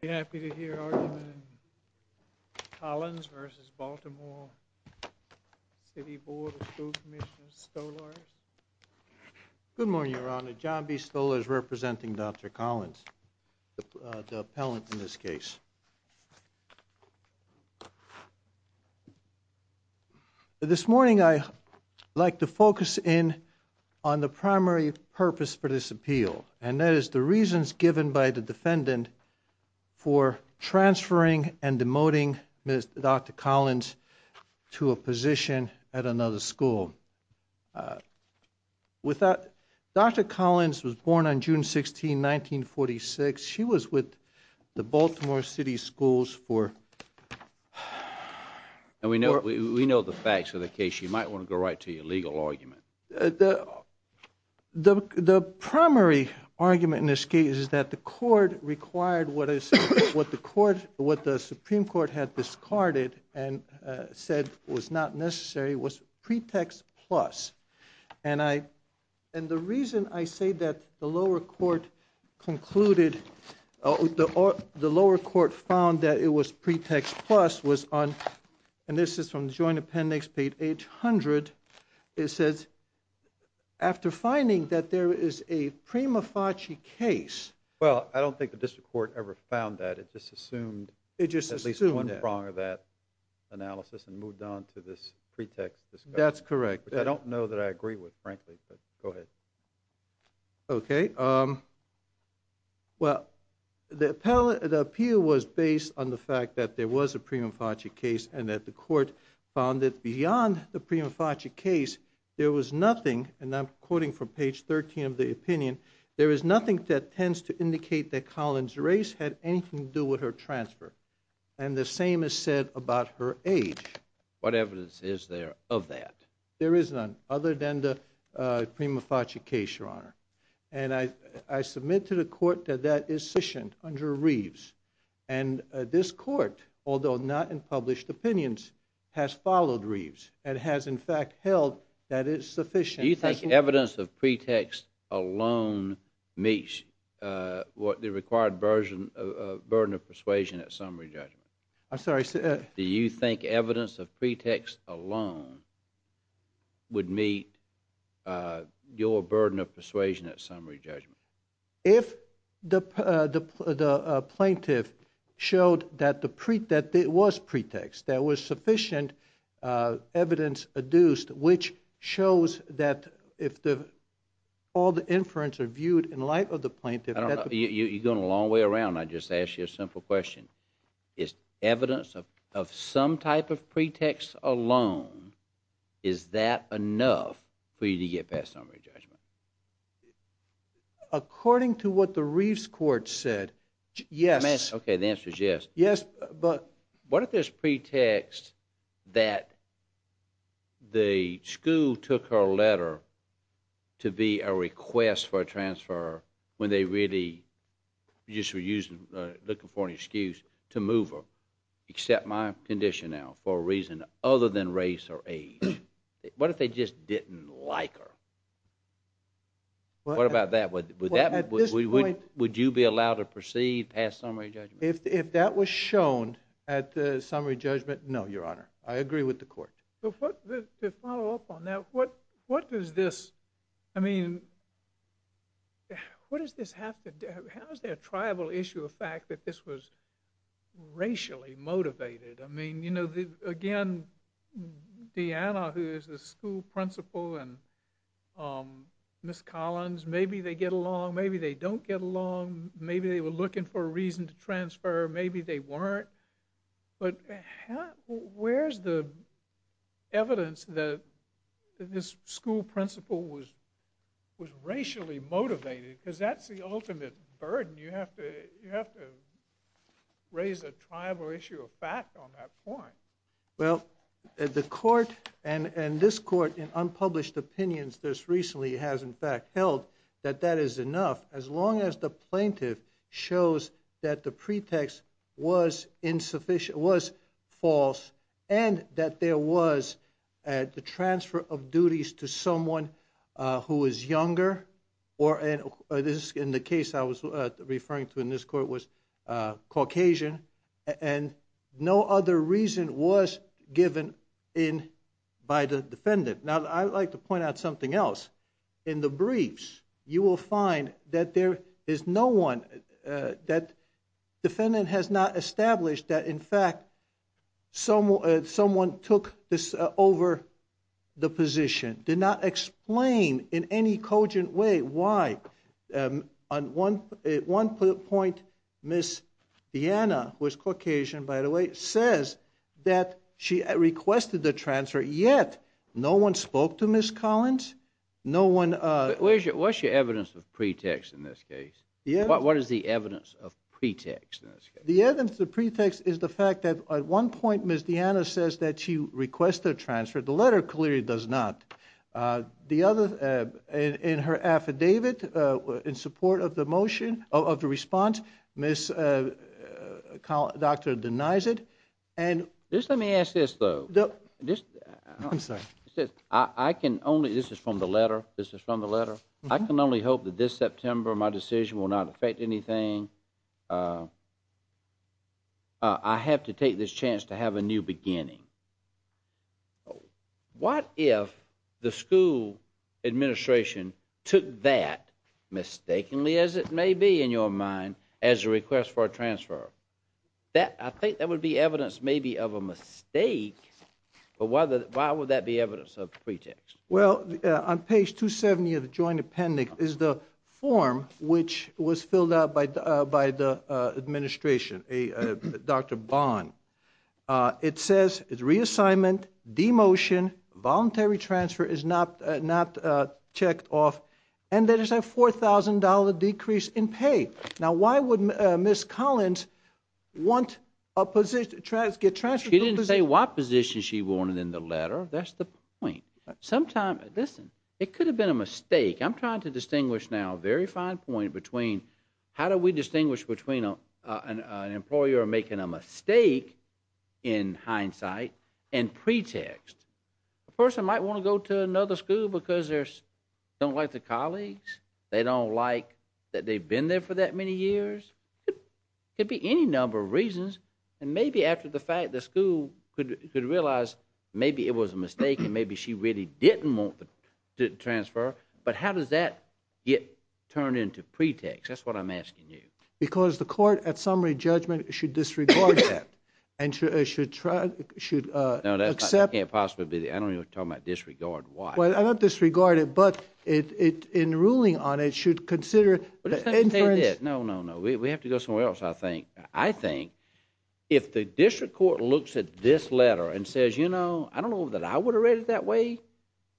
Commissioner Stolarz. Good morning, Your Honor. John B. Stolarz representing Dr. Collins, the appellant in this case. This morning I'd like to focus in on the primary purpose for this appeal, and that is the reasons given by the defendant for transferring and demoting Dr. Collins to a position at another school. Dr. Collins was born on June 16, 1946. She was with the Baltimore City Schools for... We know the facts of the case. You might want to go right to your legal argument. The primary argument in this case is that the court required what the Supreme Court had discarded and said was not necessary, was pretext plus. And the reason I say that the lower court concluded, the lower court found that it was pretext plus was on, and this is from the joint appendix page 800, it says, after finding that there is a prima facie case... Well, I don't think the district court ever found that. It just assumed at least one prong of that analysis and moved on to this pretext discussion. That's correct. I don't know that I agree with, frankly, but go ahead. Okay. Well, the appeal was based on the fact that there was a prima facie case and that the court found that beyond the prima facie case, there was nothing, and I'm quoting from page 13 of the opinion, there is nothing that tends to indicate that Collins' race had anything to do with her transfer. And the same is said about her age. What evidence is there of that? There is none other than the prima facie case, Your Honor. And I submit to the court that that is sufficient under Reeves. And this court, although not in published opinions, has followed Reeves and has, in fact, held that it is sufficient... Do you think evidence of pretext alone meets the required burden of persuasion at summary judgment? I'm sorry? Do you think evidence of pretext alone would meet your burden of persuasion at summary judgment? If the plaintiff showed that there was pretext, there was sufficient evidence adduced, which shows that if all the inference are viewed in light of the plaintiff... You're going a long way around. I'll just ask you a simple question. Is evidence of some type of pretext alone, is that enough for you to get past summary judgment? According to what the Reeves court said, yes. Okay, the answer is yes. Yes, but... What if there's pretext that the school took her letter to be a request for a transfer when they really just were looking for an excuse to move her, except my condition now, for a reason other than race or age? What if they just didn't like her? What about that? Would you be allowed to proceed past summary judgment? If that was shown at the summary judgment, no, Your Honor. I agree with the court. To follow up on that, what does this... I mean, what does this have to do... How is there a tribal issue of fact that this was racially motivated? Again, Deanna, who is the school principal, and Miss Collins, maybe they get along, maybe they don't get along, maybe they were looking for a reason to transfer, maybe they weren't. But where's the evidence that this school principal was racially motivated? Because that's the ultimate burden. You have to raise a tribal issue of fact on that point. Well, the court and this court, in unpublished opinions, this recently has in fact held that that is enough, as long as the plaintiff shows that the pretext was insufficient, was false, and that there was the transfer of duties to someone who was younger, or in the case I was referring to in this court was Caucasian, and no other reason was given by the defendant. Now, I would like to point out something else. In the briefs, you will find that the defendant has not established that in fact someone took over the position, did not explain in any cogent way why. On one point, Miss Deanna, who is Caucasian, by the way, says that she requested the transfer, yet no one spoke to Miss Collins, But what's your evidence of pretext in this case? What is the evidence of pretext in this case? The evidence of pretext is the fact that at one point, Miss Deanna says that she requests the transfer. The letter clearly does not. The other, in her affidavit, in support of the motion, of the response, Miss Collins denies it. Just let me ask this, though. I'm sorry. This is from the letter. I can only hope that this September my decision will not affect anything. I have to take this chance to have a new beginning. What if the school administration took that, mistakenly as it may be in your mind, as a request for a transfer? I think that would be evidence maybe of a mistake, but why would that be evidence of pretext? Well, on page 270 of the joint appendix is the form, which was filled out by the administration, Dr. Bond. It says it's reassignment, demotion, voluntary transfer is not checked off, and there is a $4,000 decrease in pay. Now, why would Miss Collins want to get transferred? She didn't say what position she wanted in the letter. That's the point. Listen, it could have been a mistake. I'm trying to distinguish now a very fine point between how do we distinguish between an employer making a mistake in hindsight and pretext. A person might want to go to another school because they don't like the colleagues, they don't like that they've been there for that many years. It could be any number of reasons, and maybe after the fact the school could realize maybe it was a mistake and maybe she really didn't want the transfer, but how does that get turned into pretext? That's what I'm asking you. Because the court at summary judgment should disregard that and should accept. No, that can't possibly be. I don't even want to talk about disregard. Why? Well, not disregard it, but in ruling on it should consider the inference. No, no, no. We have to go somewhere else, I think. I think if the district court looks at this letter and says, you know, I don't know that I would have read it that way,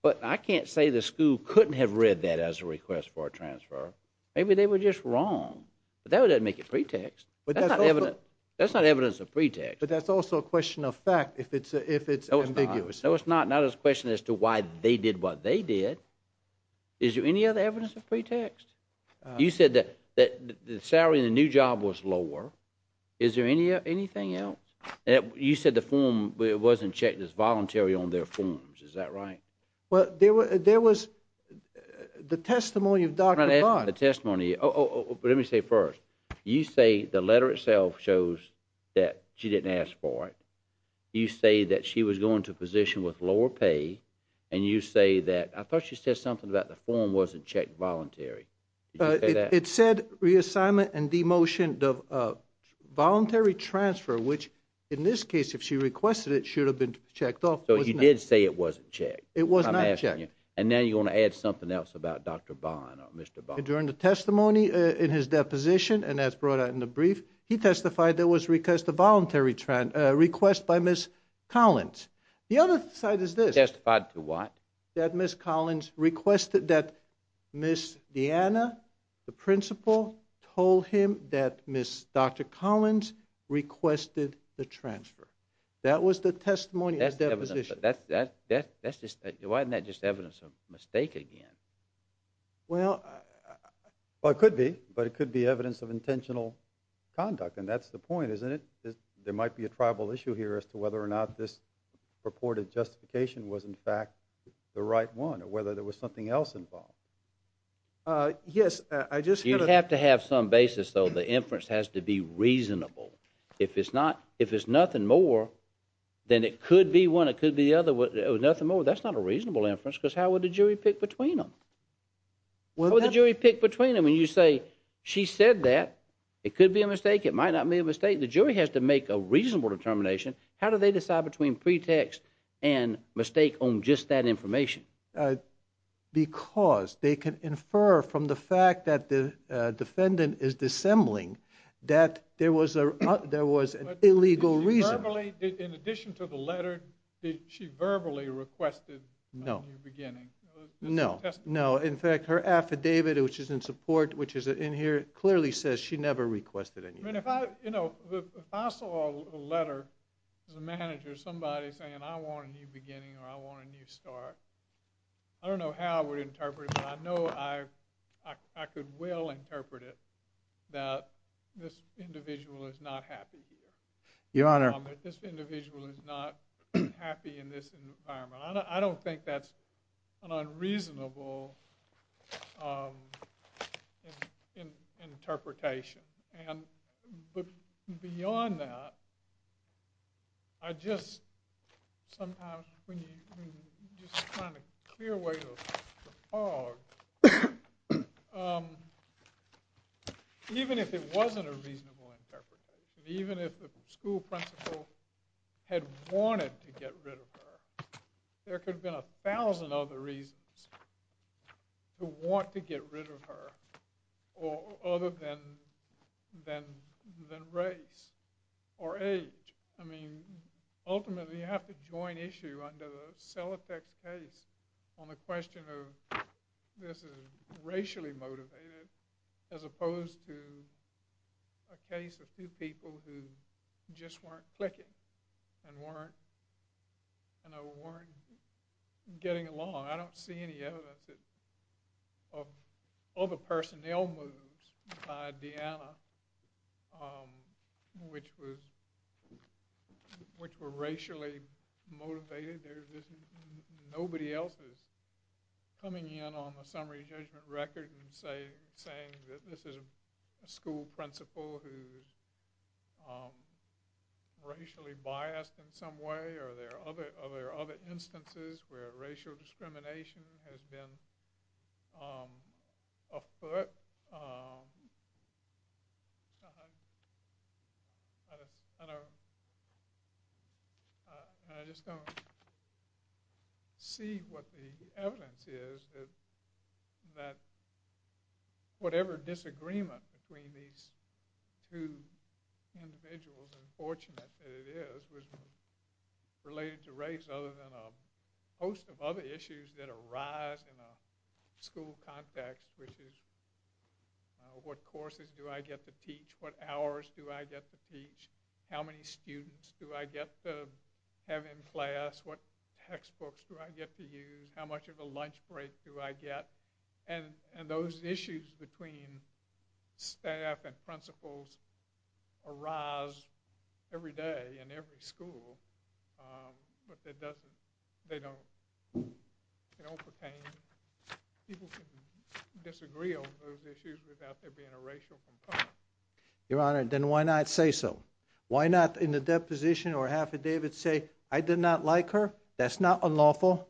but I can't say the school couldn't have read that as a request for a transfer, maybe they were just wrong. But that doesn't make it pretext. That's not evidence of pretext. But that's also a question of fact if it's ambiguous. No, it's not. Not a question as to why they did what they did. Is there any other evidence of pretext? You said that the salary in the new job was lower. Is there anything else? You said the form wasn't checked as voluntary on their forms. Is that right? Well, there was the testimony of Dr. Budd. The testimony. Let me say first, you say the letter itself shows that she didn't ask for it. You say that she was going to a position with lower pay, and you say that I thought she said something about the form wasn't checked voluntary. Did you say that? It said reassignment and demotion of voluntary transfer, which in this case if she requested it should have been checked off. So you did say it wasn't checked. It was not checked. I'm asking you. And now you want to add something else about Dr. Bond or Mr. Bond. During the testimony in his deposition, and that's brought out in the brief, he testified there was request of voluntary request by Ms. Collins. The other side is this. Testified to what? That Ms. Collins requested that Ms. Deanna, the principal, told him that Ms. Dr. Collins requested the transfer. That was the testimony of the deposition. That's just evidence of a mistake again. Well, it could be, but it could be evidence of intentional conduct, and that's the point, isn't it? There might be a tribal issue here as to whether or not this purported justification was, in fact, the right one, or whether there was something else involved. Yes, I just had a ---- You have to have some basis, though. The inference has to be reasonable. If it's not, if it's nothing more, then it could be one, it could be the other, nothing more. That's not a reasonable inference because how would the jury pick between them? How would the jury pick between them when you say she said that? It could be a mistake. It might not be a mistake. The jury has to make a reasonable determination. How do they decide between pretext and mistake on just that information? Because they can infer from the fact that the defendant is dissembling that there was an illegal reason. In addition to the letter, she verbally requested a new beginning. No, no. In fact, her affidavit, which is in support, which is in here, clearly says she never requested anything. If I saw a letter from the manager, somebody saying, I want a new beginning or I want a new start, I don't know how I would interpret it, but I know I could well interpret it that this individual is not happy here. Your Honor. This individual is not happy in this environment. I don't think that's an unreasonable interpretation. But beyond that, I just sometimes when you just kind of clear away the fog, even if it wasn't a reasonable interpretation, even if the school principal had wanted to get rid of her, there could have been a thousand other reasons to want to get rid of her other than race or age. I mean, ultimately you have to join issue under the Sellotex case on the question of this is racially motivated as opposed to a case of a few people who just weren't clicking and weren't getting along. I don't see any evidence of other personnel moves by Deanna which were racially motivated. Nobody else is coming in on the summary judgment record and saying that this is a school principal who is racially biased in some way. Are there other instances where racial discrimination has been afoot? I just don't see what the evidence is that whatever disagreement between these two individuals, unfortunate that it is, was related to race other than a host of other issues that arise in a school context which is what courses do I get to teach? What hours do I get to teach? How many students do I get to have in class? What textbooks do I get to use? How much of a lunch break do I get? And those issues between staff and principals arise every day in every school but they don't pertain. People can disagree on those issues without there being a racial component. Your Honor, then why not say so? Why not in the deposition or affidavit say I did not like her? That's not unlawful.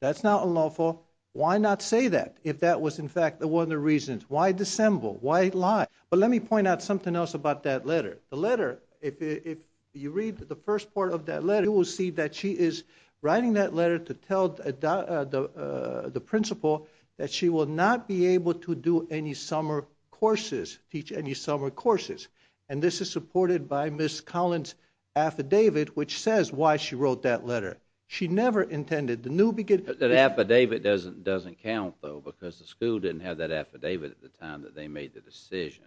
That's not unlawful. Why not say that if that was, in fact, one of the reasons? Why dissemble? Why lie? But let me point out something else about that letter. The letter, if you read the first part of that letter, you will see that she is writing that letter to tell the principal that she will not be able to do any summer courses, teach any summer courses, and this is supported by Ms. Collins' affidavit which says why she wrote that letter. She never intended. That affidavit doesn't count, though, because the school didn't have that affidavit at the time that they made the decision.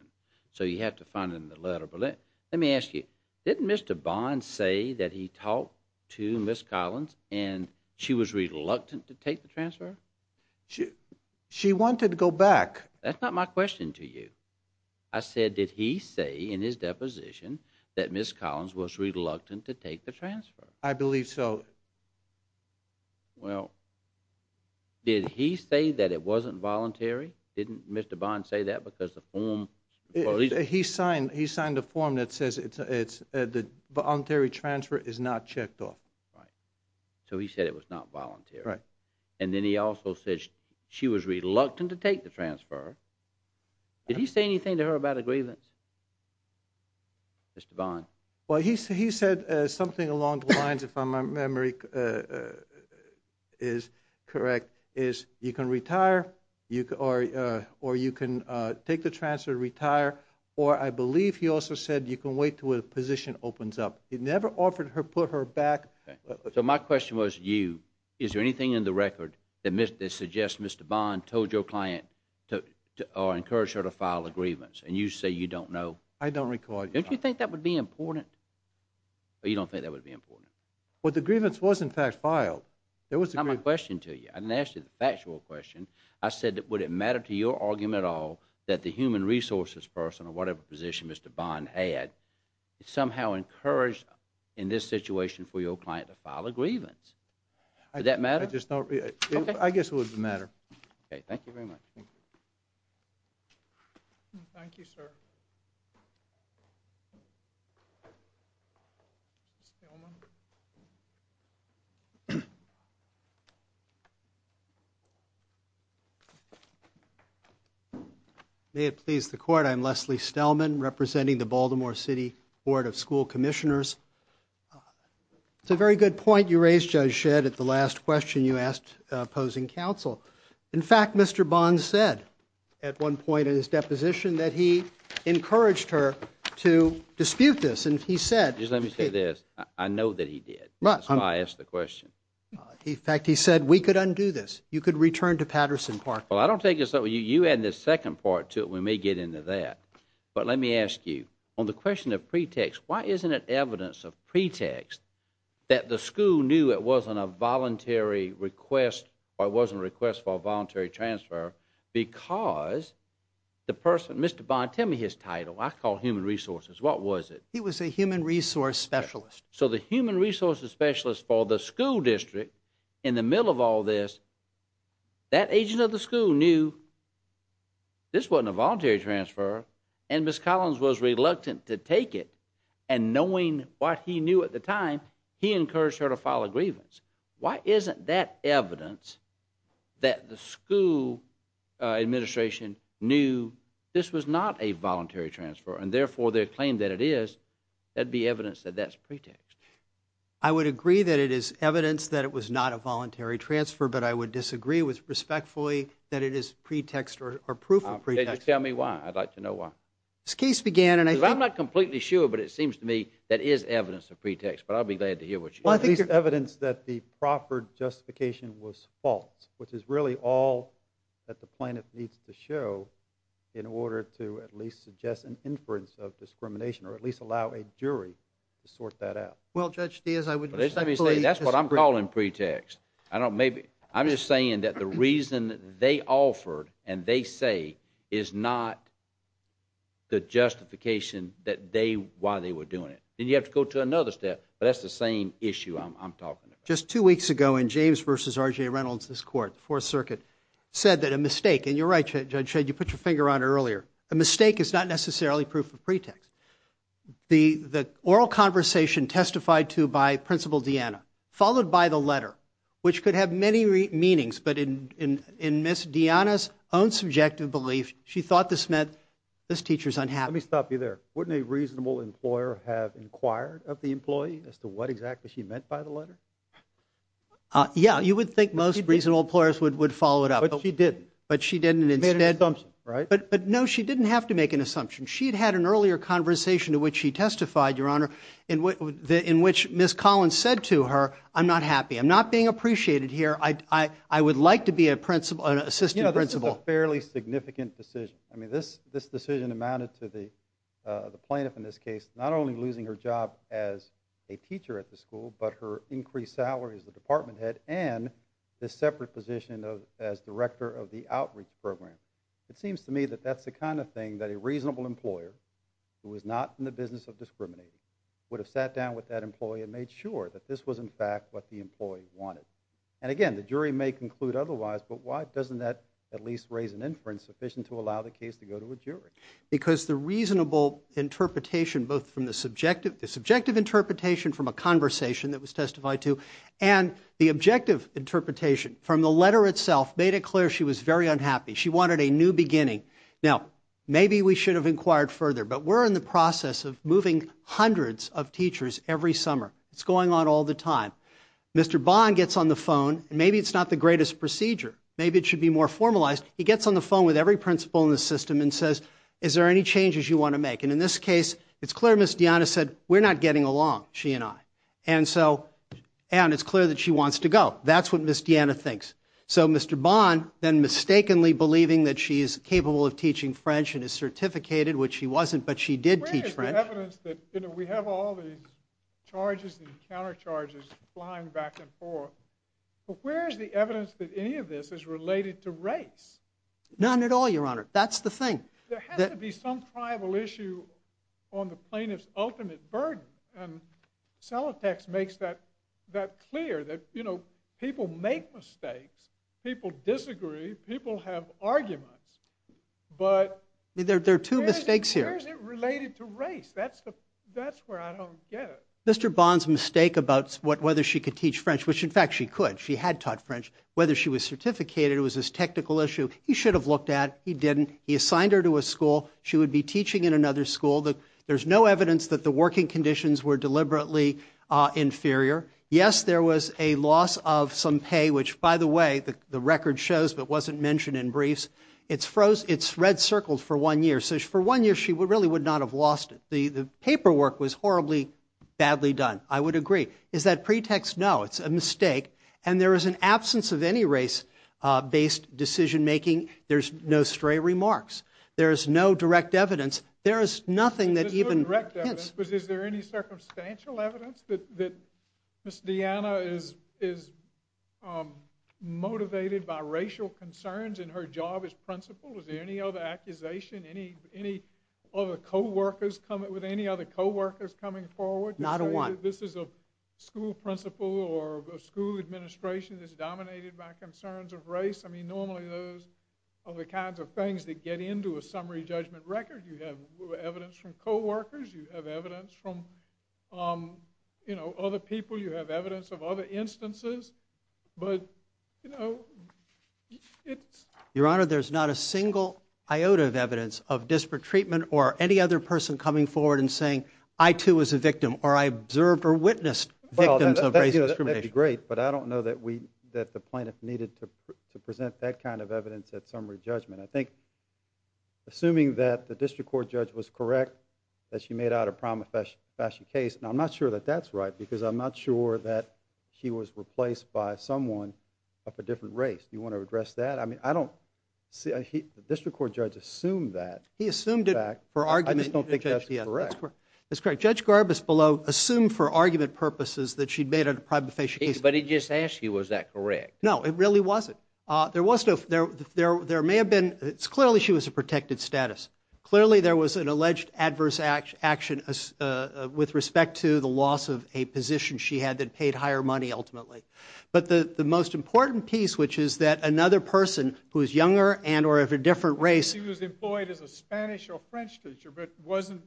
So you have to find it in the letter. Let me ask you, didn't Mr. Bond say that he talked to Ms. Collins and she was reluctant to take the transfer? She wanted to go back. That's not my question to you. I said did he say in his deposition that Ms. Collins was reluctant to take the transfer? I believe so. Well, did he say that it wasn't voluntary? Didn't Mr. Bond say that because the form? He signed a form that says the voluntary transfer is not checked off. Right. So he said it was not voluntary. Right. And then he also said she was reluctant to take the transfer. Did he say anything to her about a grievance, Mr. Bond? Well, he said something along the lines, if my memory is correct, is you can retire or you can take the transfer, retire, or I believe he also said you can wait until the position opens up. He never offered to put her back. So my question was to you, is there anything in the record that suggests Mr. Bond told your client or encouraged her to file a grievance, and you say you don't know? I don't recall. Don't you think that would be important? Or you don't think that would be important? Well, the grievance was, in fact, filed. That was the grievance. That's not my question to you. I didn't ask you the factual question. I said would it matter to your argument at all that the human resources person or whatever position Mr. Bond had somehow encouraged in this situation for your client to file a grievance? Would that matter? I guess it would matter. Okay. Thank you very much. Thank you. Thank you, sir. May it please the Court, I'm Leslie Stelman, representing the Baltimore City Board of School Commissioners. It's a very good point you raised, Judge Shedd, at the last question you asked opposing counsel. In fact, Mr. Bond said at one point in his deposition that he encouraged her to dispute this. Let me say this. I know that he did. That's why I asked the question. In fact, he said we could undo this. You could return to Patterson Park. Well, I don't think so. You add the second part to it. We may get into that. But let me ask you, on the question of pretext, why isn't it evidence of pretext that the school knew it wasn't a voluntary request, or it wasn't a request for a voluntary transfer, because the person, Mr. Bond, tell me his title. I call human resources. What was it? He was a human resource specialist. So the human resource specialist for the school district, in the middle of all this, that agent of the school knew this wasn't a voluntary transfer, and Ms. Collins was reluctant to take it. And knowing what he knew at the time, he encouraged her to file a grievance. Why isn't that evidence that the school administration knew this was not a voluntary transfer, and, therefore, their claim that it is, that be evidence that that's pretext? I would agree that it is evidence that it was not a voluntary transfer, but I would disagree respectfully that it is pretext or proof of pretext. Tell me why. I'd like to know why. This case began, and I think — I'm not completely sure, but it seems to me that is evidence of pretext. But I'll be glad to hear what you think. Well, at least evidence that the proper justification was false, which is really all that the plaintiff needs to show in order to at least suggest an inference of discrimination, or at least allow a jury to sort that out. Well, Judge Steers, I would respectfully disagree. That's what I'm calling pretext. I'm just saying that the reason they offered and they say is not the justification that they — why they were doing it. Then you have to go to another step. But that's the same issue I'm talking about. Just two weeks ago in James v. R.J. Reynolds' court, the Fourth Circuit, said that a mistake — and you're right, Judge Shade, you put your finger on it earlier — a mistake is not necessarily proof of pretext. The oral conversation testified to by Principal Deanna, followed by the letter, which could have many meanings, but in Ms. Deanna's own subjective belief, she thought this meant, this teacher's unhappy. Let me stop you there. Wouldn't a reasonable employer have inquired of the employee as to what exactly she meant by the letter? Yeah, you would think most reasonable employers would follow it up. But she didn't. But she didn't. Made an assumption, right? But, no, she didn't have to make an assumption. She had had an earlier conversation to which she testified, Your Honor, in which Ms. Collins said to her, I'm not happy. I'm not being appreciated here. I would like to be an assistant principal. You know, this is a fairly significant decision. I mean, this decision amounted to the plaintiff, in this case, not only losing her job as a teacher at the school, but her increased salary as the department head and this separate position as director of the outreach program. It seems to me that that's the kind of thing that a reasonable employer, who is not in the business of discriminating, would have sat down with that employee and made sure that this was, in fact, what the employee wanted. And, again, the jury may conclude otherwise, but why doesn't that at least raise an inference sufficient to allow the case to go to a jury? Because the reasonable interpretation, both from the subjective interpretation from a conversation that was testified to and the objective interpretation from the letter itself made it clear she was very unhappy. She wanted a new beginning. Now, maybe we should have inquired further, but we're in the process of moving hundreds of teachers every summer. It's going on all the time. Mr. Bond gets on the phone. Maybe it's not the greatest procedure. Maybe it should be more formalized. He gets on the phone with every principal in the system and says, is there any changes you want to make? And in this case, it's clear Ms. DeAnna said, we're not getting along, she and I. And it's clear that she wants to go. That's what Ms. DeAnna thinks. So Mr. Bond, then mistakenly believing that she is capable of teaching French and is certificated, which she wasn't, but she did teach French. We have all these charges and counter charges flying back and forth. But where is the evidence that any of this is related to race? None at all, Your Honor. That's the thing. There has to be some tribal issue on the plaintiff's ultimate burden. And Celotex makes that clear, that people make mistakes. People disagree. People have arguments. There are two mistakes here. Where is it related to race? That's where I don't get it. Mr. Bond's mistake about whether she could teach French, which, in fact, she could. She had taught French. Whether she was certificated was a technical issue. He should have looked at. He didn't. He assigned her to a school. She would be teaching in another school. There's no evidence that the working conditions were deliberately inferior. Yes, there was a loss of some pay, which, by the way, the record shows, but wasn't mentioned in briefs. It's red circled for one year. So for one year, she really would not have lost it. The paperwork was horribly badly done. I would agree. Is that pretext? No. It's a mistake. And there is an absence of any race-based decision making. There's no stray remarks. There is no direct evidence. There is nothing that even hints. Is there any circumstantial evidence that Ms. Deanna is motivated by racial concerns in her job as principal? Is there any other accusation with any other coworkers coming forward? Not a one. This is a school principal or a school administration that's dominated by concerns of race. I mean, normally those are the kinds of things that get into a summary judgment record. You have evidence from coworkers. You have evidence from other people. You have evidence of other instances. But, you know, it's... Your Honor, there's not a single iota of evidence of disparate treatment or any other person coming forward and saying, I too was a victim or I observed or witnessed victims of racial discrimination. That would be great, but I don't know that the plaintiff needed to present that kind of evidence at summary judgment. I think, assuming that the district court judge was correct, that she made out a prima facie case, and I'm not sure that that's right because I'm not sure that he was replaced by someone of a different race. Do you want to address that? I mean, I don't see... The district court judge assumed that. He assumed it for argument. I just don't think that's correct. That's correct. Judge Garbus below assumed for argument purposes that she'd made a prima facie case. But he just asked you, was that correct? No, it really wasn't. There was no... There may have been... Clearly she was a protected status. Clearly there was an alleged adverse action with respect to the loss of a position she had that paid higher money ultimately. But the most important piece, which is that another person who is younger and or of a different race... She was employed as a Spanish or French teacher, but wasn't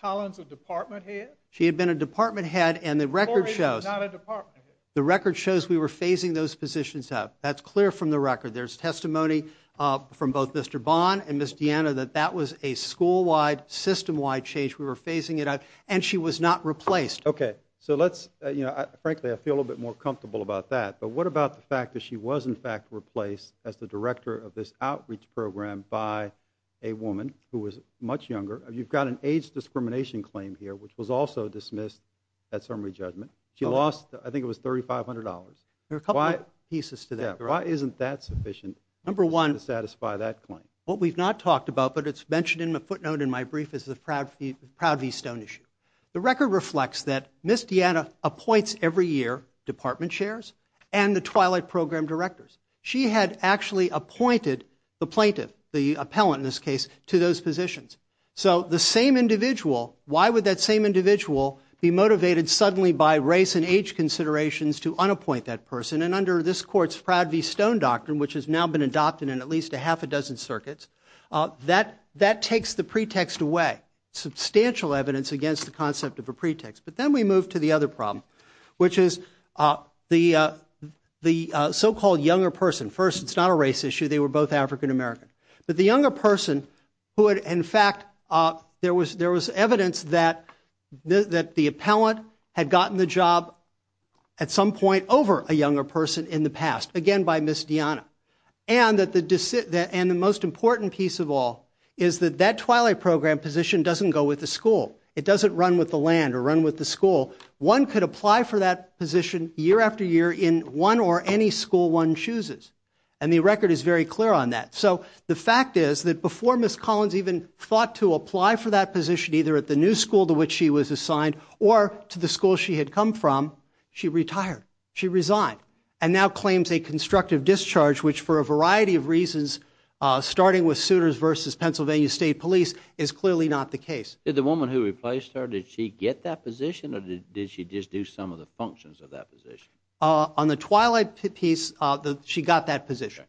Collins a department head? She had been a department head, and the record shows... Corey was not a department head. The record shows we were phasing those positions out. That's clear from the record. There's testimony from both Mr. Bond and Ms. Deanna that that was a school-wide, system-wide change. We were phasing it out, and she was not replaced. Okay, so let's... Frankly, I feel a little bit more comfortable about that. But what about the fact that she was in fact replaced as the director of this outreach program by a woman who was much younger? You've got an age discrimination claim here, which was also dismissed at summary judgment. She lost, I think it was, $3,500. There are a couple of pieces to that. Why isn't that sufficient to satisfy that claim? What we've not talked about, but it's mentioned in the footnote in my brief, is the Proud V. Stone issue. The record reflects that Ms. Deanna appoints every year department chairs and the Twilight Program directors. She had actually appointed the plaintiff, the appellant in this case, to those positions. So the same individual... Why would that same individual be motivated suddenly by race and age considerations to unappoint that person? And under this court's Proud V. Stone doctrine, which has now been adopted in at least a half a dozen circuits, that takes the pretext away. Substantial evidence against the concept of a pretext. But then we move to the other problem, which is the so-called younger person. First, it's not a race issue. They were both African-American. But the younger person who had, in fact... There was evidence that the appellant had gotten the job at some point over a younger person in the past, again by Ms. Deanna. And the most important piece of all is that that Twilight Program position doesn't go with the school. It doesn't run with the land or run with the school. One could apply for that position year after year in one or any school one chooses. And the record is very clear on that. So the fact is that before Ms. Collins even thought to apply for that position, either at the new school to which she was assigned or to the school she had come from, she retired. She resigned and now claims a constructive discharge, which for a variety of reasons, starting with suitors versus Pennsylvania State Police, is clearly not the case. Did the woman who replaced her, did she get that position or did she just do some of the functions of that position? On the Twilight piece, she got that position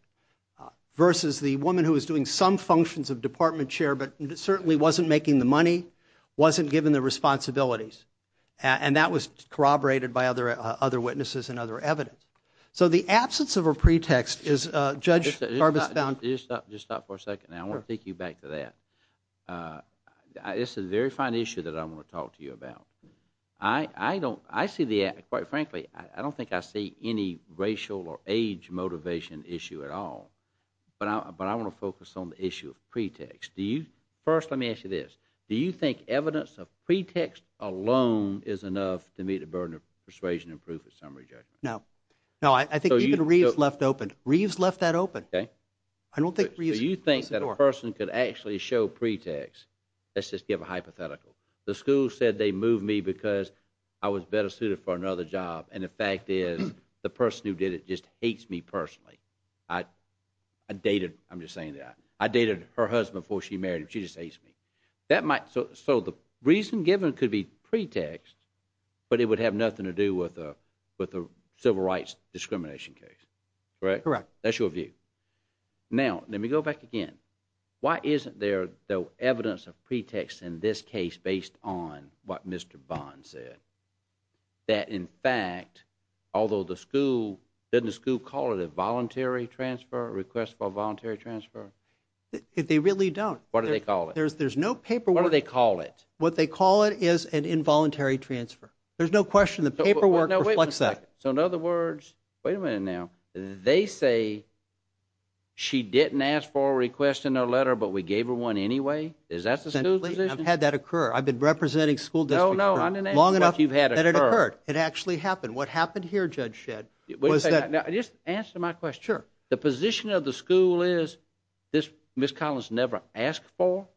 versus the woman who was doing some functions of department chair but certainly wasn't making the money, wasn't given the responsibilities. And that was corroborated by other witnesses and other evidence. So the absence of a pretext is, Judge Garbus found... Just stop for a second. I want to take you back to that. It's a very fine issue that I want to talk to you about. I see the act, quite frankly, I don't think I see any racial or age motivation issue at all. But I want to focus on the issue of pretext. First, let me ask you this. Do you think evidence of pretext alone is enough to meet the burden of persuasion and proof in summary judgment? No. No, I think even Reeves left open. Reeves left that open. Okay. I don't think Reeves... So you think that a person could actually show pretext. Let's just give a hypothetical. The school said they moved me because I was better suited for another job and the fact is the person who did it just hates me personally. I dated, I'm just saying that. I dated her husband before she married him. She just hates me. So the reason given could be pretext, but it would have nothing to do with a civil rights discrimination case. Correct? Correct. That's your view. Now, let me go back again. Why isn't there though evidence of pretext in this case based on what Mr. Bond said? That in fact, although the school, doesn't the school call it a voluntary transfer, a request for voluntary transfer? They really don't. What do they call it? There's no paperwork. What do they call it? What they call it is an involuntary transfer. There's no question the paperwork reflects that. So in other words, wait a minute now. They say she didn't ask for a request in her letter, but we gave her one anyway? Is that the school's position? I've had that occur. I've been representing school districts long enough that it occurred. It actually happened. What happened here, Judge Shedd, was that... Just answer my question. Sure. The position of the school is Ms. Collins never asked for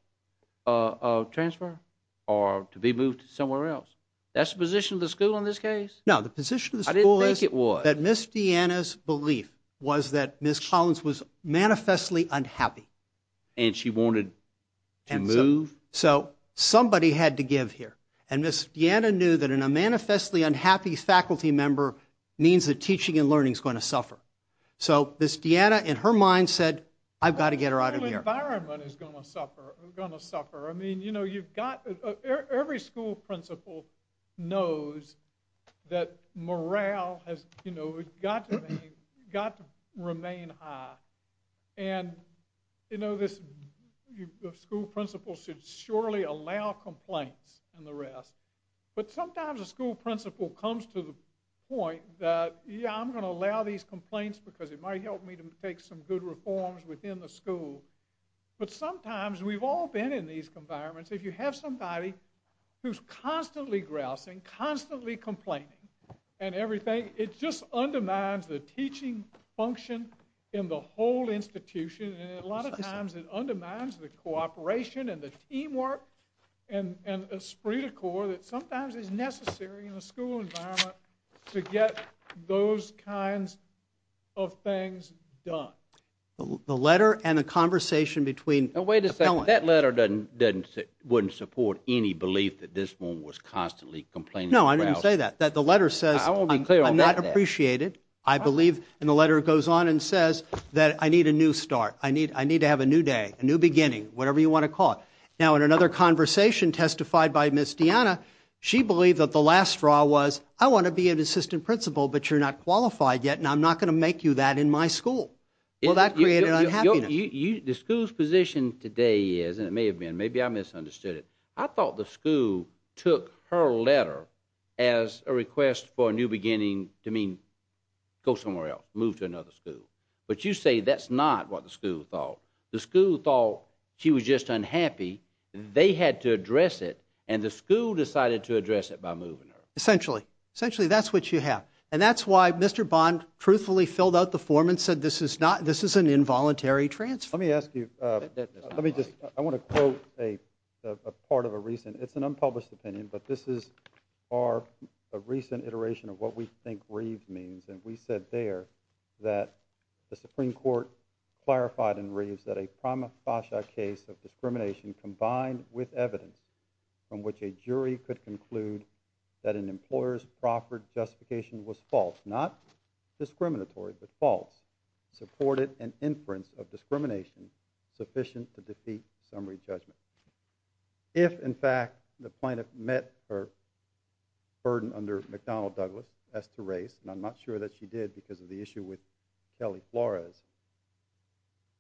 a transfer or to be moved somewhere else. That's the position of the school in this case? No, the position of the school is... I didn't think it was. ...that Ms. Deanna's belief was that Ms. Collins was manifestly unhappy. And she wanted to move? So somebody had to give here. And Ms. Deanna knew that a manifestly unhappy faculty member means that teaching and learning is going to suffer. So Ms. Deanna, in her mind, said, I've got to get her out of here. The school environment is going to suffer. I mean, you know, you've got... Every school principal knows that morale has, you know, got to remain high. And, you know, this school principal should surely allow complaints and the rest. But sometimes a school principal comes to the point that, yeah, I'm going to allow these complaints because it might help me to take some good reforms within the school. But sometimes we've all been in these environments. If you have somebody who's constantly grousing, constantly complaining and everything, it just undermines the teaching function in the whole institution. And a lot of times it undermines the cooperation and the teamwork and esprit de corps that sometimes is necessary in the school environment to get those kinds of things done. The letter and the conversation between... Wait a second. That letter wouldn't support any belief that this woman was constantly complaining and grousing. No, I didn't say that. The letter says I'm not appreciated. I believe, and the letter goes on and says that I need a new start. I need to have a new day, a new beginning, whatever you want to call it. Now, in another conversation testified by Ms. Deanna, she believed that the last straw was, I want to be an assistant principal but you're not qualified yet and I'm not going to make you that in my school. Well, that created unhappiness. The school's position today is, and it may have been, maybe I misunderstood it, I thought the school took her letter as a request for a new beginning to mean go somewhere else, move to another school. But you say that's not what the school thought. The school thought she was just unhappy. They had to address it and the school decided to address it by moving her. Essentially. Essentially, that's what you have. And that's why Mr. Bond truthfully filled out the form and said this is an involuntary transfer. Let me ask you, let me just, I want to quote a part of a recent, it's an unpublished opinion, but this is a recent iteration of what we think Reeves means. And we said there that the Supreme Court clarified in Reeves that a prima facie case of discrimination combined with evidence from which a jury could conclude that an employer's proper justification was false, not discriminatory, but false, supported an inference of discrimination sufficient to defeat summary judgment. If in fact the plaintiff met her burden under McDonnell Douglas as to race, and I'm not sure that she did because of the issue with Kelly Flores,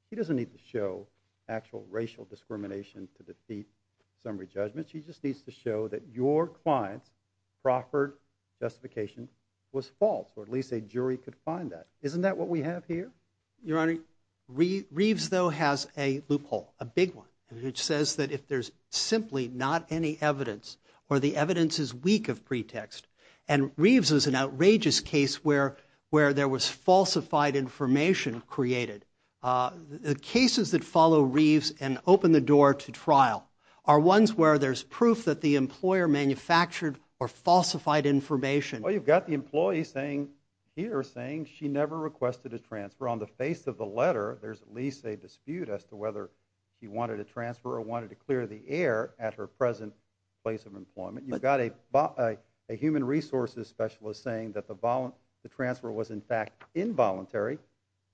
he doesn't need to show actual racial discrimination to defeat summary judgment. She just needs to show that your clients proffered justification was false, or at least a jury could find that. Isn't that what we have here? Your Honor, Reeves though has a loophole, a big one, which says that if there's simply not any evidence or the evidence is weak of pretext and Reeves is an outrageous case where, where there was falsified information created, the cases that follow Reeves and open the door to trial are ones where there's proof that the employer manufactured or falsified information. Well, you've got the employee saying here saying she never requested a transfer on the face of the letter. There's at least a dispute as to whether he wanted a transfer or wanted to clear the air at her present place of employment. You've got a, a human resources specialist saying that the voluntary, the transfer was in fact involuntary.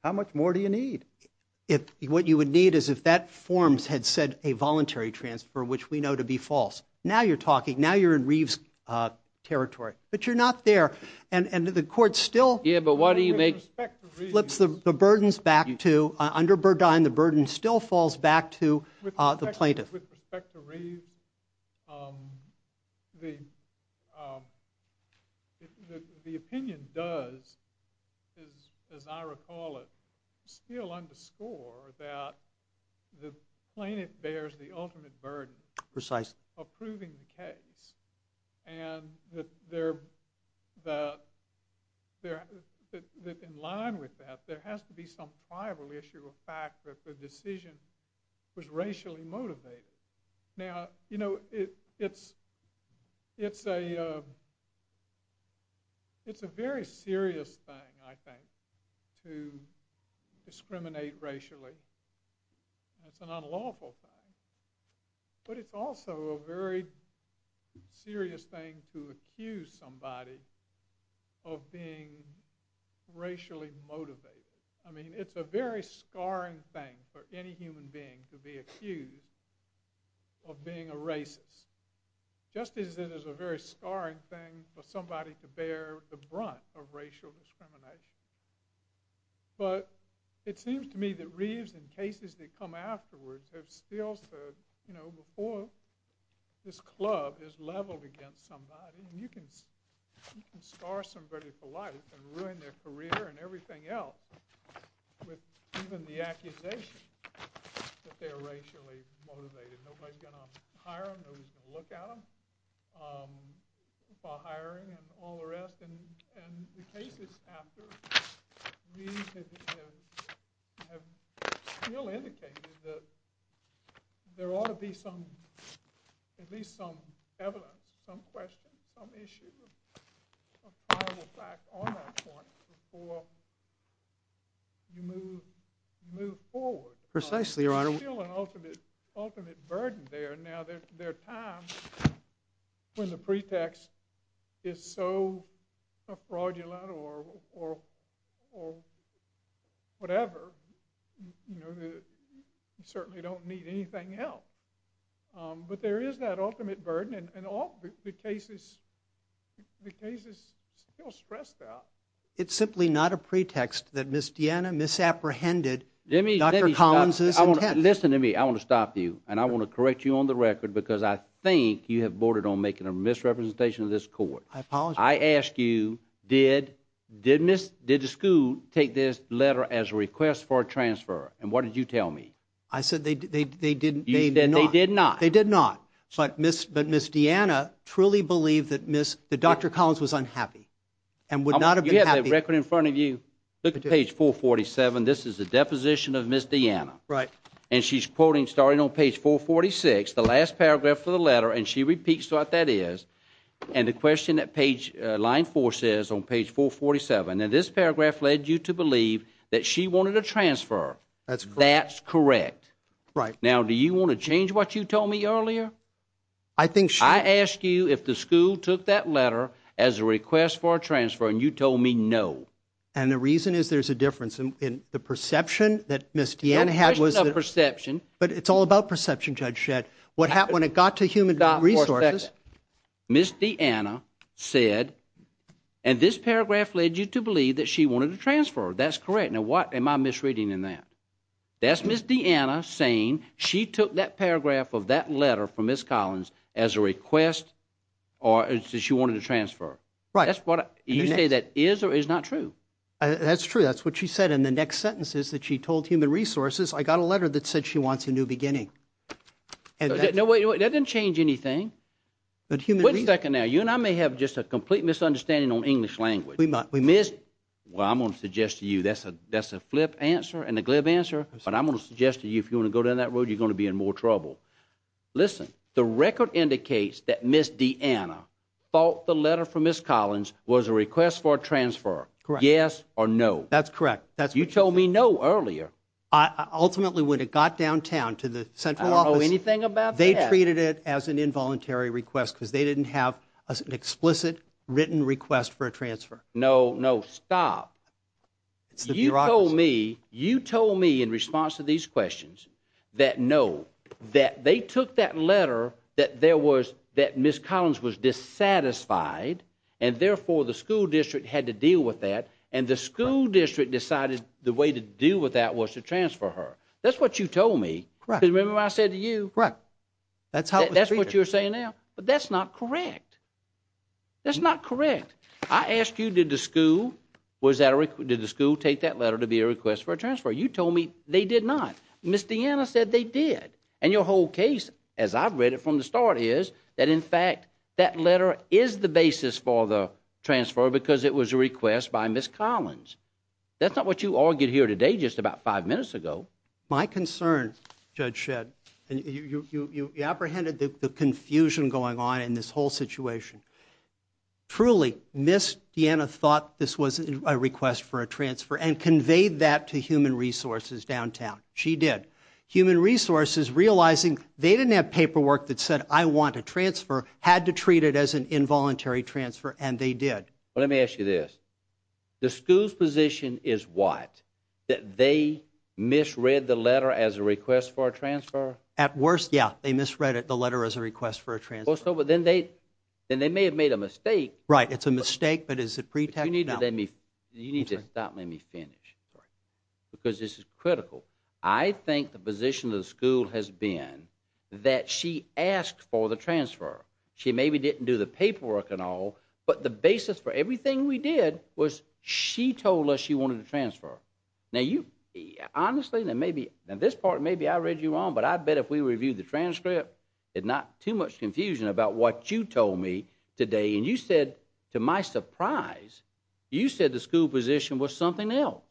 How much more do you need? If what you would need is if that forms had said a voluntary transfer, which we know to be false. Now you're talking, now you're in Reeves territory, but you're not there. And, and the court still, yeah, but why do you make flips the burdens back to under Burdine? The burden still falls back to the plaintiff with respect to Reeves. Um, the, um, the, the, the opinion does is, as I recall it, still underscore that the plaintiff bears the ultimate burden. Precisely. Approving the case and that there, that there, that in line with that, there has to be some tribal issue of fact that the decision was racially motivated. Now, you know, it, it's, it's a, um, it's a very serious thing, I think, to discriminate racially. It's an unlawful thing. But it's also a very serious thing to accuse somebody of being racially motivated. I mean, it's a very scarring thing for any human being to be accused of being a racist. Just as it is a very scarring thing for somebody to bear the brunt of racial discrimination. But it seems to me that Reeves, in cases that come afterwards, have still said, you know, before this club is leveled against somebody, and you can, you can scar somebody for life and ruin their career and everything else, with even the accusation that they're racially motivated. Nobody's going to hire them, nobody's going to look at them for hiring and all the rest. And, and the cases after Reeves have, have, have still indicated that there ought to be some, at least some evidence, some questions, some issues of tribal fact on that point before, you move, move forward. Precisely, Your Honor. There's still an ultimate, ultimate burden there. Now there, there are times when the pretext is so fraudulent or, or, or whatever, you know, you certainly don't need anything else. But there is that ultimate burden and all the cases, the cases still stress that. It's simply not a pretext that Miss Deanna misapprehended Dr. Collins. Listen to me. I want to stop you and I want to correct you on the record because I think you have boarded on making a misrepresentation of this court. I apologize. I asked you, did, did Miss, did the school take this letter as a request for a transfer? And what did you tell me? I said they, they, they didn't, they did not. They did not. But Miss, but Miss Deanna truly believe that Miss, that Dr. Collins was unhappy and would not have had a record in front of you. Look at page four 47. This is a deposition of Miss Deanna, right? And she's quoting starting on page four 46, the last paragraph for the letter. And she repeats what that is. And the question that page line four says on page four 47, and this paragraph led you to believe that she wanted a transfer. That's correct. Right now, do you want to change what you told me earlier? I think. I asked you if the school took that letter as a request for a transfer. And you told me, no. And the reason is there's a difference in the perception that Miss Deanna had perception, but it's all about perception. Judge shed what happened when it got to human resources. Miss Deanna said, and this paragraph led you to believe that she wanted to transfer. That's correct. Now, what am I misreading in that? That's Miss Deanna saying she took that paragraph of that letter from Miss Collins as a request or she wanted to transfer. Right. That's what you say. That is, or is not true. That's true. That's what she said. And the next sentence is that she told human resources. I got a letter that said she wants a new beginning. No way. That didn't change anything. But human. Wait a second. Now, you and I may have just a complete misunderstanding on English language. We miss. Well, I'm going to suggest to you, that's a, that's a flip answer and a glib answer, but I'm going to suggest to you, if you want to go down that road, you're going to be in more trouble. Listen, the record indicates that Miss Deanna thought the letter from Miss Collins was a request for a transfer. Correct. Yes or no. That's correct. That's what you told me. No. Earlier. I ultimately, when it got downtown to the central office, anything about, they treated it as an involuntary request because they didn't have an explicit written request for a transfer. No, no, stop. You told me, you told me in response to these questions that no, that they took that letter, that there was that Miss Collins was dissatisfied. And therefore the school district had to deal with that. And the school district decided the way to deal with that was to transfer her. That's what you told me. Correct. Remember I said to you, correct. That's how that's what you're saying now, but that's not correct. That's not correct. I asked you, did the school was that a record? Did the school take that letter to be a request for a transfer? You told me they did not. Miss Deanna said they did. And your whole case, as I've read it from the start is that in fact, that letter is the basis for the transfer because it was a request by Miss Collins. That's not what you argued here today, just about five minutes ago. My concern judge shed and you, you, you apprehended the confusion going on in this whole situation. Truly miss Deanna thought this was a request for a transfer and conveyed that to human resources downtown. She did human resources, realizing they didn't have paperwork that said, I want to transfer, had to treat it as an involuntary transfer. And they did. Well, let me ask you this. The school's position is what, that they misread the letter as a request for a transfer at worst. Yeah. They misread it. The letter as a request for a transfer. So, but then they, then they may have made a mistake, right? It's a mistake, but as a pretext, you need to let me, you need to stop. Let me finish. Because this is critical. I think the position of the school has been that she asked for the transfer. She maybe didn't do the paperwork and all, but the basis for everything we did was she told us she wanted to transfer. Now you honestly, that maybe this part, maybe I read you wrong, but I bet if we reviewed the transcript, it's not too much confusion about what you told me today. And you said to my surprise, you said the school position was something else.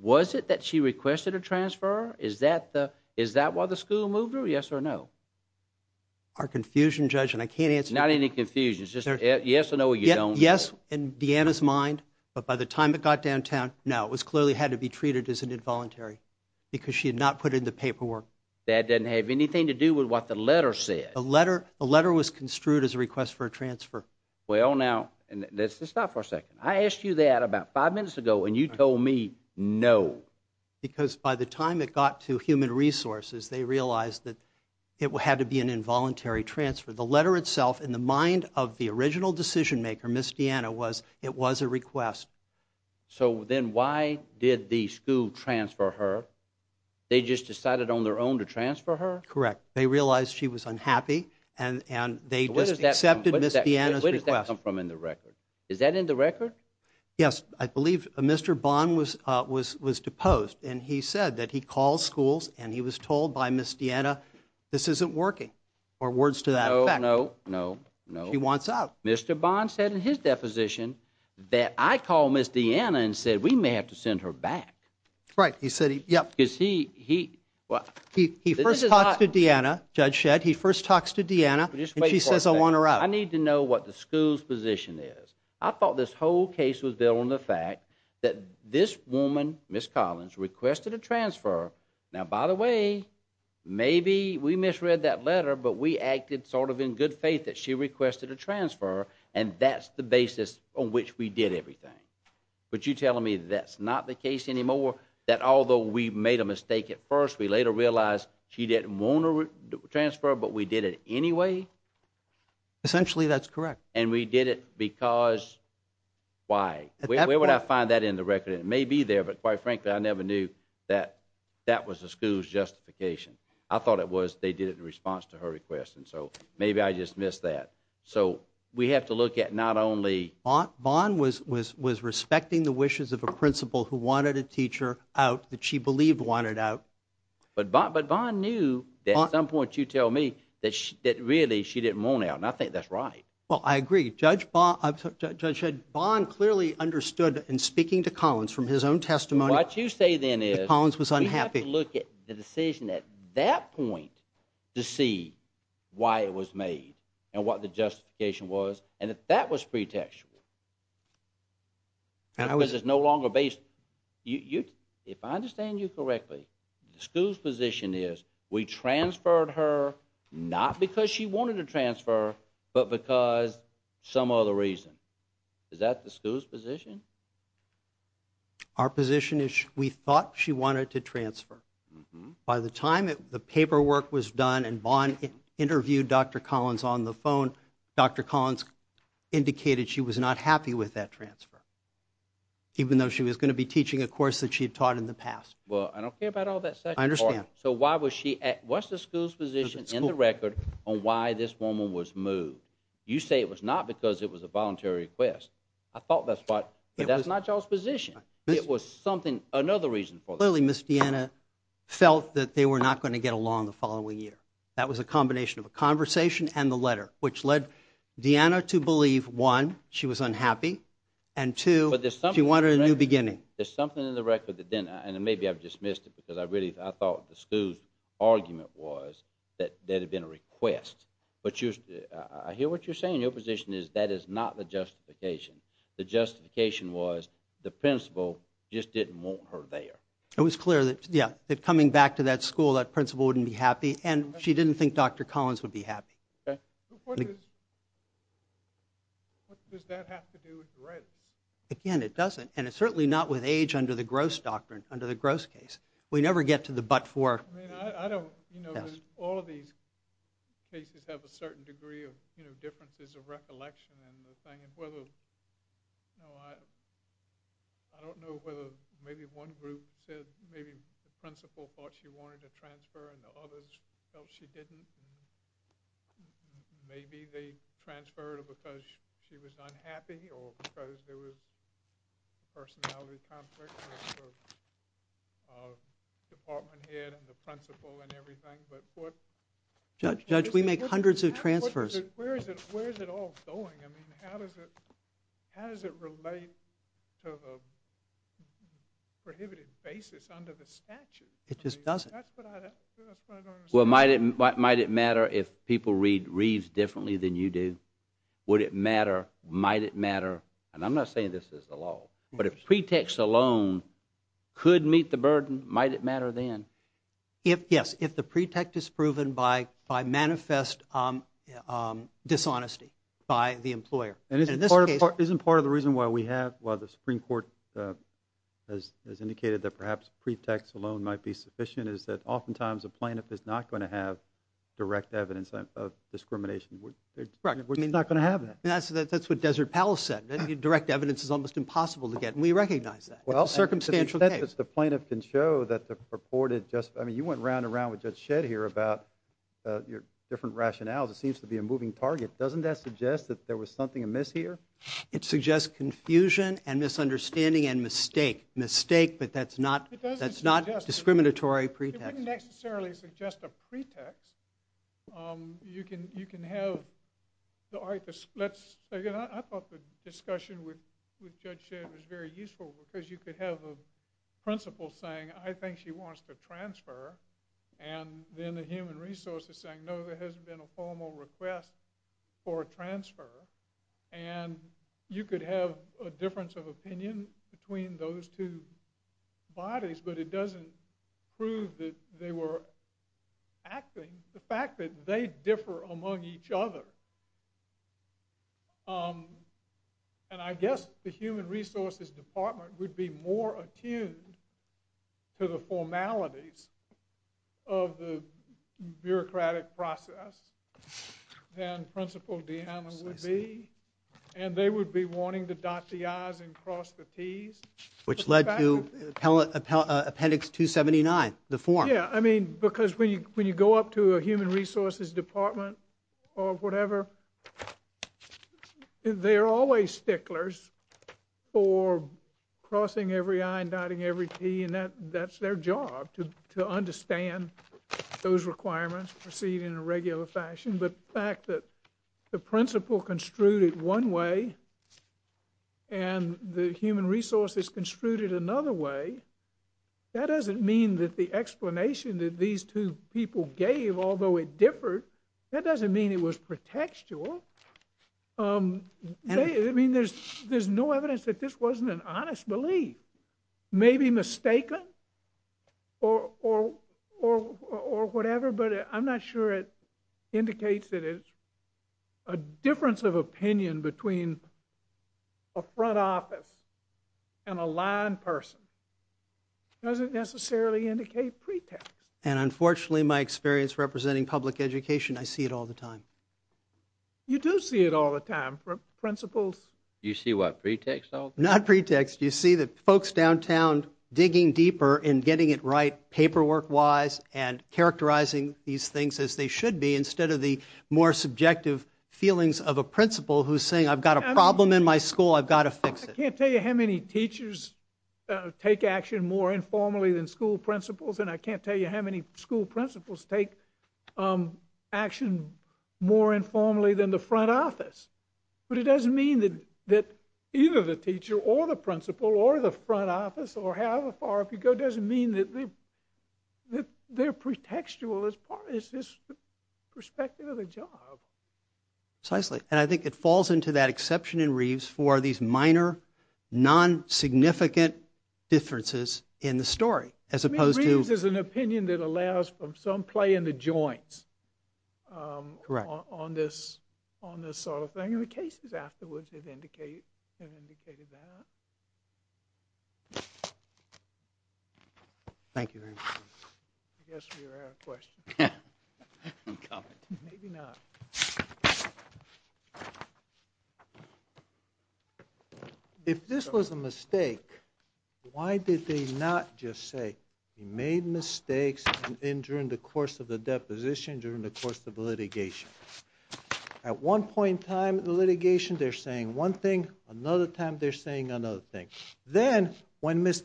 Was it that she requested a transfer? Is that the, is that why the school moved her? Yes or no? Our confusion judge. And I can't answer. Not any confusion. It's just, yes or no. Yes. And Deanna's mind. But by the time it got downtown, now it was clearly had to be treated as an involuntary because she had not put in the paperwork. That doesn't have anything to do with what the letter said. A letter, a letter was construed as a request for a transfer. Well, now let's stop for a second. I asked you that about five minutes ago and you told me no. Because by the time it got to human resources, they realized that it will have to be an involuntary transfer. The letter itself in the mind of the original decision maker, Miss Deanna was, it was a request. So then why did the school transfer her? They just decided on their own to transfer her. Correct. They realized she was unhappy and, and they just accepted Miss Deanna's request from, in the record. Is that in the record? Yes. I believe Mr. Bond was, was, was deposed and he said that he calls schools and he was told by Miss Deanna, this isn't working or words to that effect. No, no, no, no. He wants out. Mr. Bond said in his deposition that I call Miss Deanna and said, we may have to send her back. Right. He said, yep. Is he, he, he, he, he, he first talked to Deanna judge said he first talks to Deanna and she says, I want her out. I need to know what the school's position is. I thought this whole case was built on the fact that this woman, Ms. Collins requested a transfer. Now, by the way, maybe we misread that letter, but we acted sort of in good faith that she requested a transfer and that's the basis on which we did everything. But you telling me that's not the case anymore, that although we made a mistake at first, we later realized, she didn't want to transfer, but we did it anyway. Essentially that's correct. And we did it because why, where would I find that in the record? It may be there, but quite frankly, I never knew that that was a school's justification. I thought it was, they did it in response to her request. And so maybe I just missed that. So we have to look at not only bond was, was, was respecting the wishes of a principal who wanted a teacher out that she believed wanted out. But Bob, but bond knew that at some point you tell me that she, that really she didn't want out. And I think that's right. Well, I agree. Judge Bob judge had bond clearly understood and speaking to Collins from his own testimony. What you say then is Collins was unhappy. Look at the decision at that point to see why it was made and what the justification was. And if that was pretext, and I was just no longer based. You, if I understand you correctly, the school's position is we transferred her not because she wanted to transfer, but because some other reason is that the school's position, our position is we thought she wanted to transfer by the time the paperwork was done. And bond interviewed Dr. Collins on the phone. Dr. Collins indicated she was not happy with that transfer, even though she was going to be teaching a course that she had taught in the past. Well, I don't care about all that stuff. I understand. So why was she at, what's the school's position in the record on why this woman was moved? You say it was not because it was a voluntary request. I thought that spot, but that's not y'all's position. It was something, another reason for the Miss Deanna felt that they were not going to get along the following year. That was a combination of a conversation and the letter, which led Deanna to believe one, she was unhappy and two, but there's something you want a new beginning. There's something in the record that then, and then maybe I've dismissed it because I really, I thought the school's argument was that there had been a request, but you, I hear what you're saying. Your position is that is not the justification. The justification was the principal just didn't want her there. It was clear that, yeah, that coming back to that school, that principal wouldn't be happy and she didn't think Dr. Collins would be happy. Okay. What does that have to do with dread? it doesn't. And it's certainly not with age under the gross doctrine, under the gross case. We never get to the, but for, I mean, I don't, you know, all of these cases have a certain degree of, you know, differences of recollection and the thing and whether, you know, I, I don't know whether maybe one group said maybe the principal thought she wanted to transfer and the others felt she didn't. Maybe they transferred because she was unhappy or because there was, first of all, the conflict of department head and the principal and everything. But what judge, we make hundreds of transfers. Where is it? Where is it all going? I mean, how does it, how does it relate to the prohibited basis under the statute? It just doesn't. That's what I, that's what I don't understand. Well, might it, might it matter if people read reads differently than you do? Would it matter? Might it matter? And I'm not saying this is the law, but if pretext alone could meet the burden, might it matter then if, yes, if the pretext is proven by, by manifest dishonesty by the employer. And in this case, isn't part of the reason why we have, while the Supreme court has, has indicated that perhaps pretext alone might be sufficient is that oftentimes a plaintiff is not going to have direct evidence of discrimination. We're not going to have that. I mean, that's, that's what desert palace said. Then you direct evidence is almost impossible to get. And we recognize that. Well, circumstantial that's the plaintiff can show that the reported just, I mean, you went round and round with judge shed here about your different rationales. It seems to be a moving target. Doesn't that suggest that there was something amiss here? It suggests confusion and misunderstanding and mistake mistake, but that's not, that's not discriminatory. Pretext necessarily suggest a pretext. You can, you can have the artists. Let's say, you know, I thought the discussion with, with judge shed was very useful because you could have a principle saying, I think she wants to transfer. And then the human resources saying, no, there hasn't been a formal request for a transfer. And you could have a difference of opinion between those two bodies, but it doesn't prove that they were acting. The fact that they differ among each other. And I guess the human resources department would be more attuned to the formalities of the bureaucratic process. And principal Deanna would be, and they would be wanting to dot the I's and cross the T's, which led to appellate appendix two 79, the form. I mean, because when you, when you go up to a human resources department or whatever, they're always sticklers for crossing every I and dotting every T and that that's their job to, to understand those requirements proceed in a regular fashion. But the fact that the principle construed one way and the human resources construed another way, that doesn't mean that the explanation that these two people gave, although it differed, that doesn't mean it was pretextual. I mean, there's, there's no evidence that this wasn't an honest belief, maybe mistaken or, or, or, or whatever, but I'm not sure it indicates that it's a difference of opinion between a necessarily indicate pretext. And unfortunately, my experience representing public education, I see it all the time. You do see it all the time for principles. You see what pretext, not pretext. You see that folks downtown digging deeper and getting it right. Paperwork wise and characterizing these things as they should be. Instead of the more subjective feelings of a principal who's saying, I've got a problem in my school. I've got to fix it. I can't tell you how many teachers take action more informally than school principals. And I can't tell you how many school principals take action more informally than the front office. But it doesn't mean that, that either the teacher or the principal or the front office or however far up you go, it doesn't mean that they're pretextual as part of this perspective of the job. Precisely. And I think it falls into that exception in Reeves for these minor non-significant differences in the story. I mean, Reeves is an opinion that allows for some play in the joints. Correct. On this sort of thing. And the cases afterwards have indicated that. Thank you very much. I guess we were out of questions. Maybe not. Okay. If this was a mistake, why did they not just say he made mistakes in during the course of the deposition, during the course of litigation at one point in time, the litigation, they're saying one thing, another time they're saying another thing. Then when Miss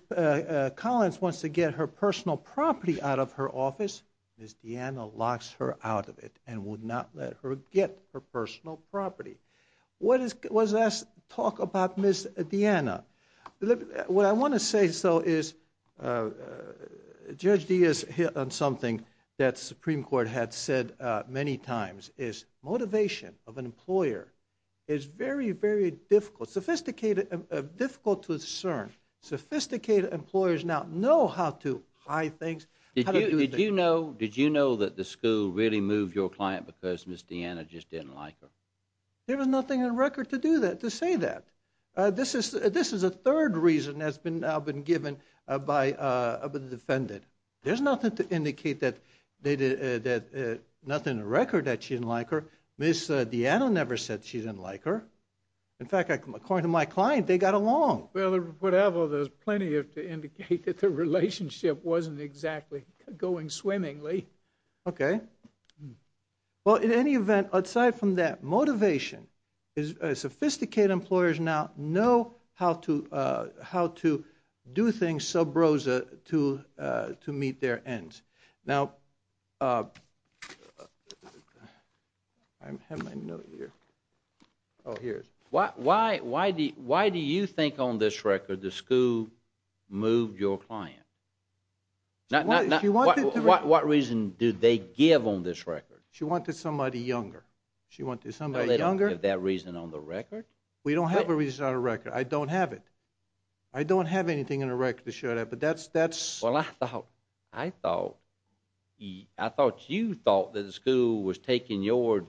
Collins wants to get her personal property out of her office, Miss Deanna locks her out of it and would not let her get her personal property. What does that talk about Miss Deanna? What I want to say, so is Judge Diaz hit on something that Supreme Court had said many times is motivation of an employer is very, very difficult, sophisticated, difficult to discern. Sophisticated employers now know how to hide things. Did you know, did you know that the school really moved your client because Miss Deanna just didn't like her? There was nothing in record to do that, to say that this is, this is a third reason has been, I've been given by a defendant. There's nothing to indicate that they did that. Nothing in the record that she didn't like her. Miss Deanna never said she didn't like her. In fact, according to my client, they got along. Well, whatever, there's plenty of to indicate that the relationship wasn't exactly going swimmingly. Okay. Well, in any event, outside from that motivation is a sophisticated employers. Now know how to, uh, how to do things. Sub Rosa to, uh, to meet their ends. Now, uh, I'm having my note here. Oh, here's why, why, why do you, why do you think on this record, the school moved your client? Not, not what, what reason do they give on this record? She wanted somebody younger. She wanted somebody younger. That reason on the record. We don't have a reason on a record. I don't have it. I don't have anything in a record to show that, but that's, that's, well, I thought, I thought he, I thought you thought that the school was taking your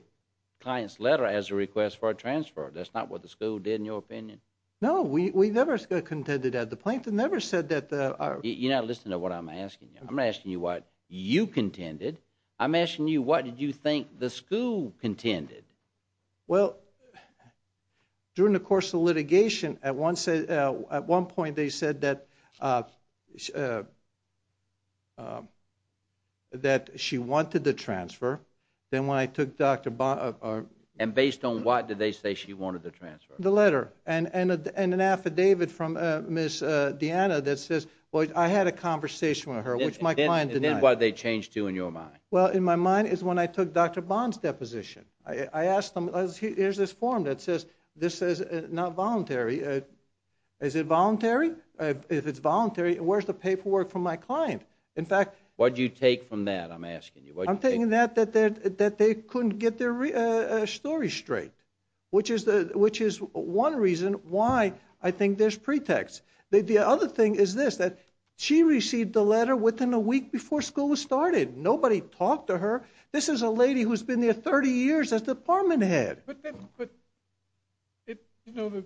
client's letter as a request for a transfer. That's not what the school did in your opinion. No, we, we never got contended at the plaintiff. Never said that. Uh, you're not listening to what I'm asking you. I'm asking you what you contended. I'm asking you, what did you think the school contended? Well, during the course of litigation at one, say, uh, at one point they said that, uh, uh, um, that she wanted the transfer. Then when I took Dr. And based on what did they say? She wanted the transfer, the letter and, and, and an affidavit from, uh, miss, uh, Deanna that says, well, I had a conversation with her, which my client, and then what they changed to in your mind. Well, in my mind is when I took Dr. Bond's deposition, I asked him, here's this form that says, this is not voluntary. Uh, is it voluntary? Uh, if it's voluntary, where's the paperwork from my client? In fact, what'd you take from that? I'm asking you, I'm taking that, that, that, that they couldn't get their, uh, uh, story straight, which is the, which is one reason why I think there's pretext. The, the other thing is this, that she received the letter within a week before school was started. Nobody talked to her. This is a lady who's been there 30 years as department head. But, but it, you know, the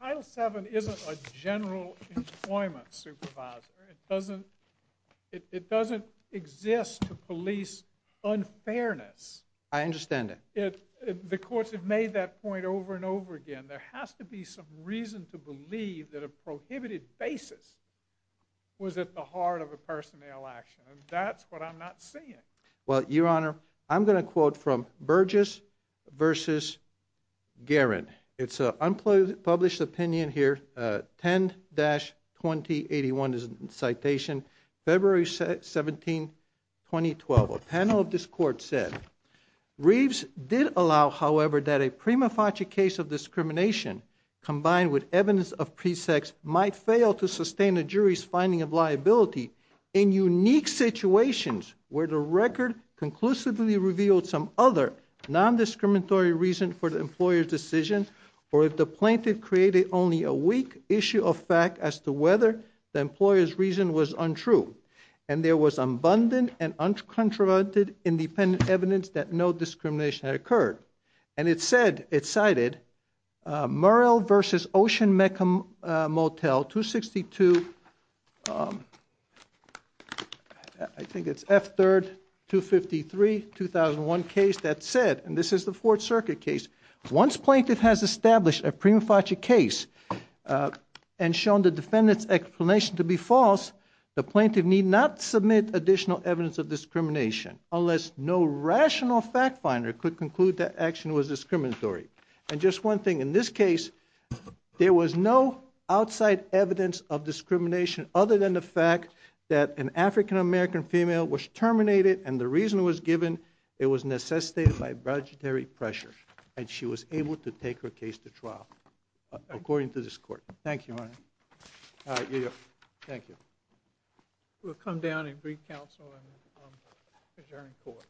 title seven isn't a general employment supervisor. It doesn't, it, it's unfairness. I understand it. It, the courts have made that point over and over again. There has to be some reason to believe that a prohibited basis was at the heart of a personnel action. And that's what I'm not seeing. Well, your honor, I'm going to quote from Burgess versus Guerin. It's a unpublished, published opinion here. Uh, 10 dash 20 81 is citation February 17, 2012. A panel of this court said Reeves did allow, however, that a prima facie case of discrimination combined with evidence of pre sex might fail to sustain a jury's finding of liability in unique situations where the record conclusively revealed some other non-discriminatory reason for the employer's decision, or if the plaintiff created only a weak issue of fact as to whether the employer's reason was untrue. And there was abundant and uncontroverted independent evidence that no discrimination had occurred. And it said, it cited, uh, Murrell versus ocean Mecca, uh, motel two 62. Um, I think it's F third two 53, 2001 case that said, and this is the fourth circuit case. Once plaintiff has established a prima facie case, uh, and shown the defendant's explanation to be false. The plaintiff need not submit additional evidence of discrimination unless no rational fact finder could conclude that action was discriminatory. And just one thing in this case, there was no outside evidence of discrimination other than the fact that an African American female was terminated. And the reason it was given, it was necessitated by budgetary pressure. And she was able to take her case to trial according to this court. Thank you. All right. Thank you. We'll come down and brief counsel and um, adjourn court.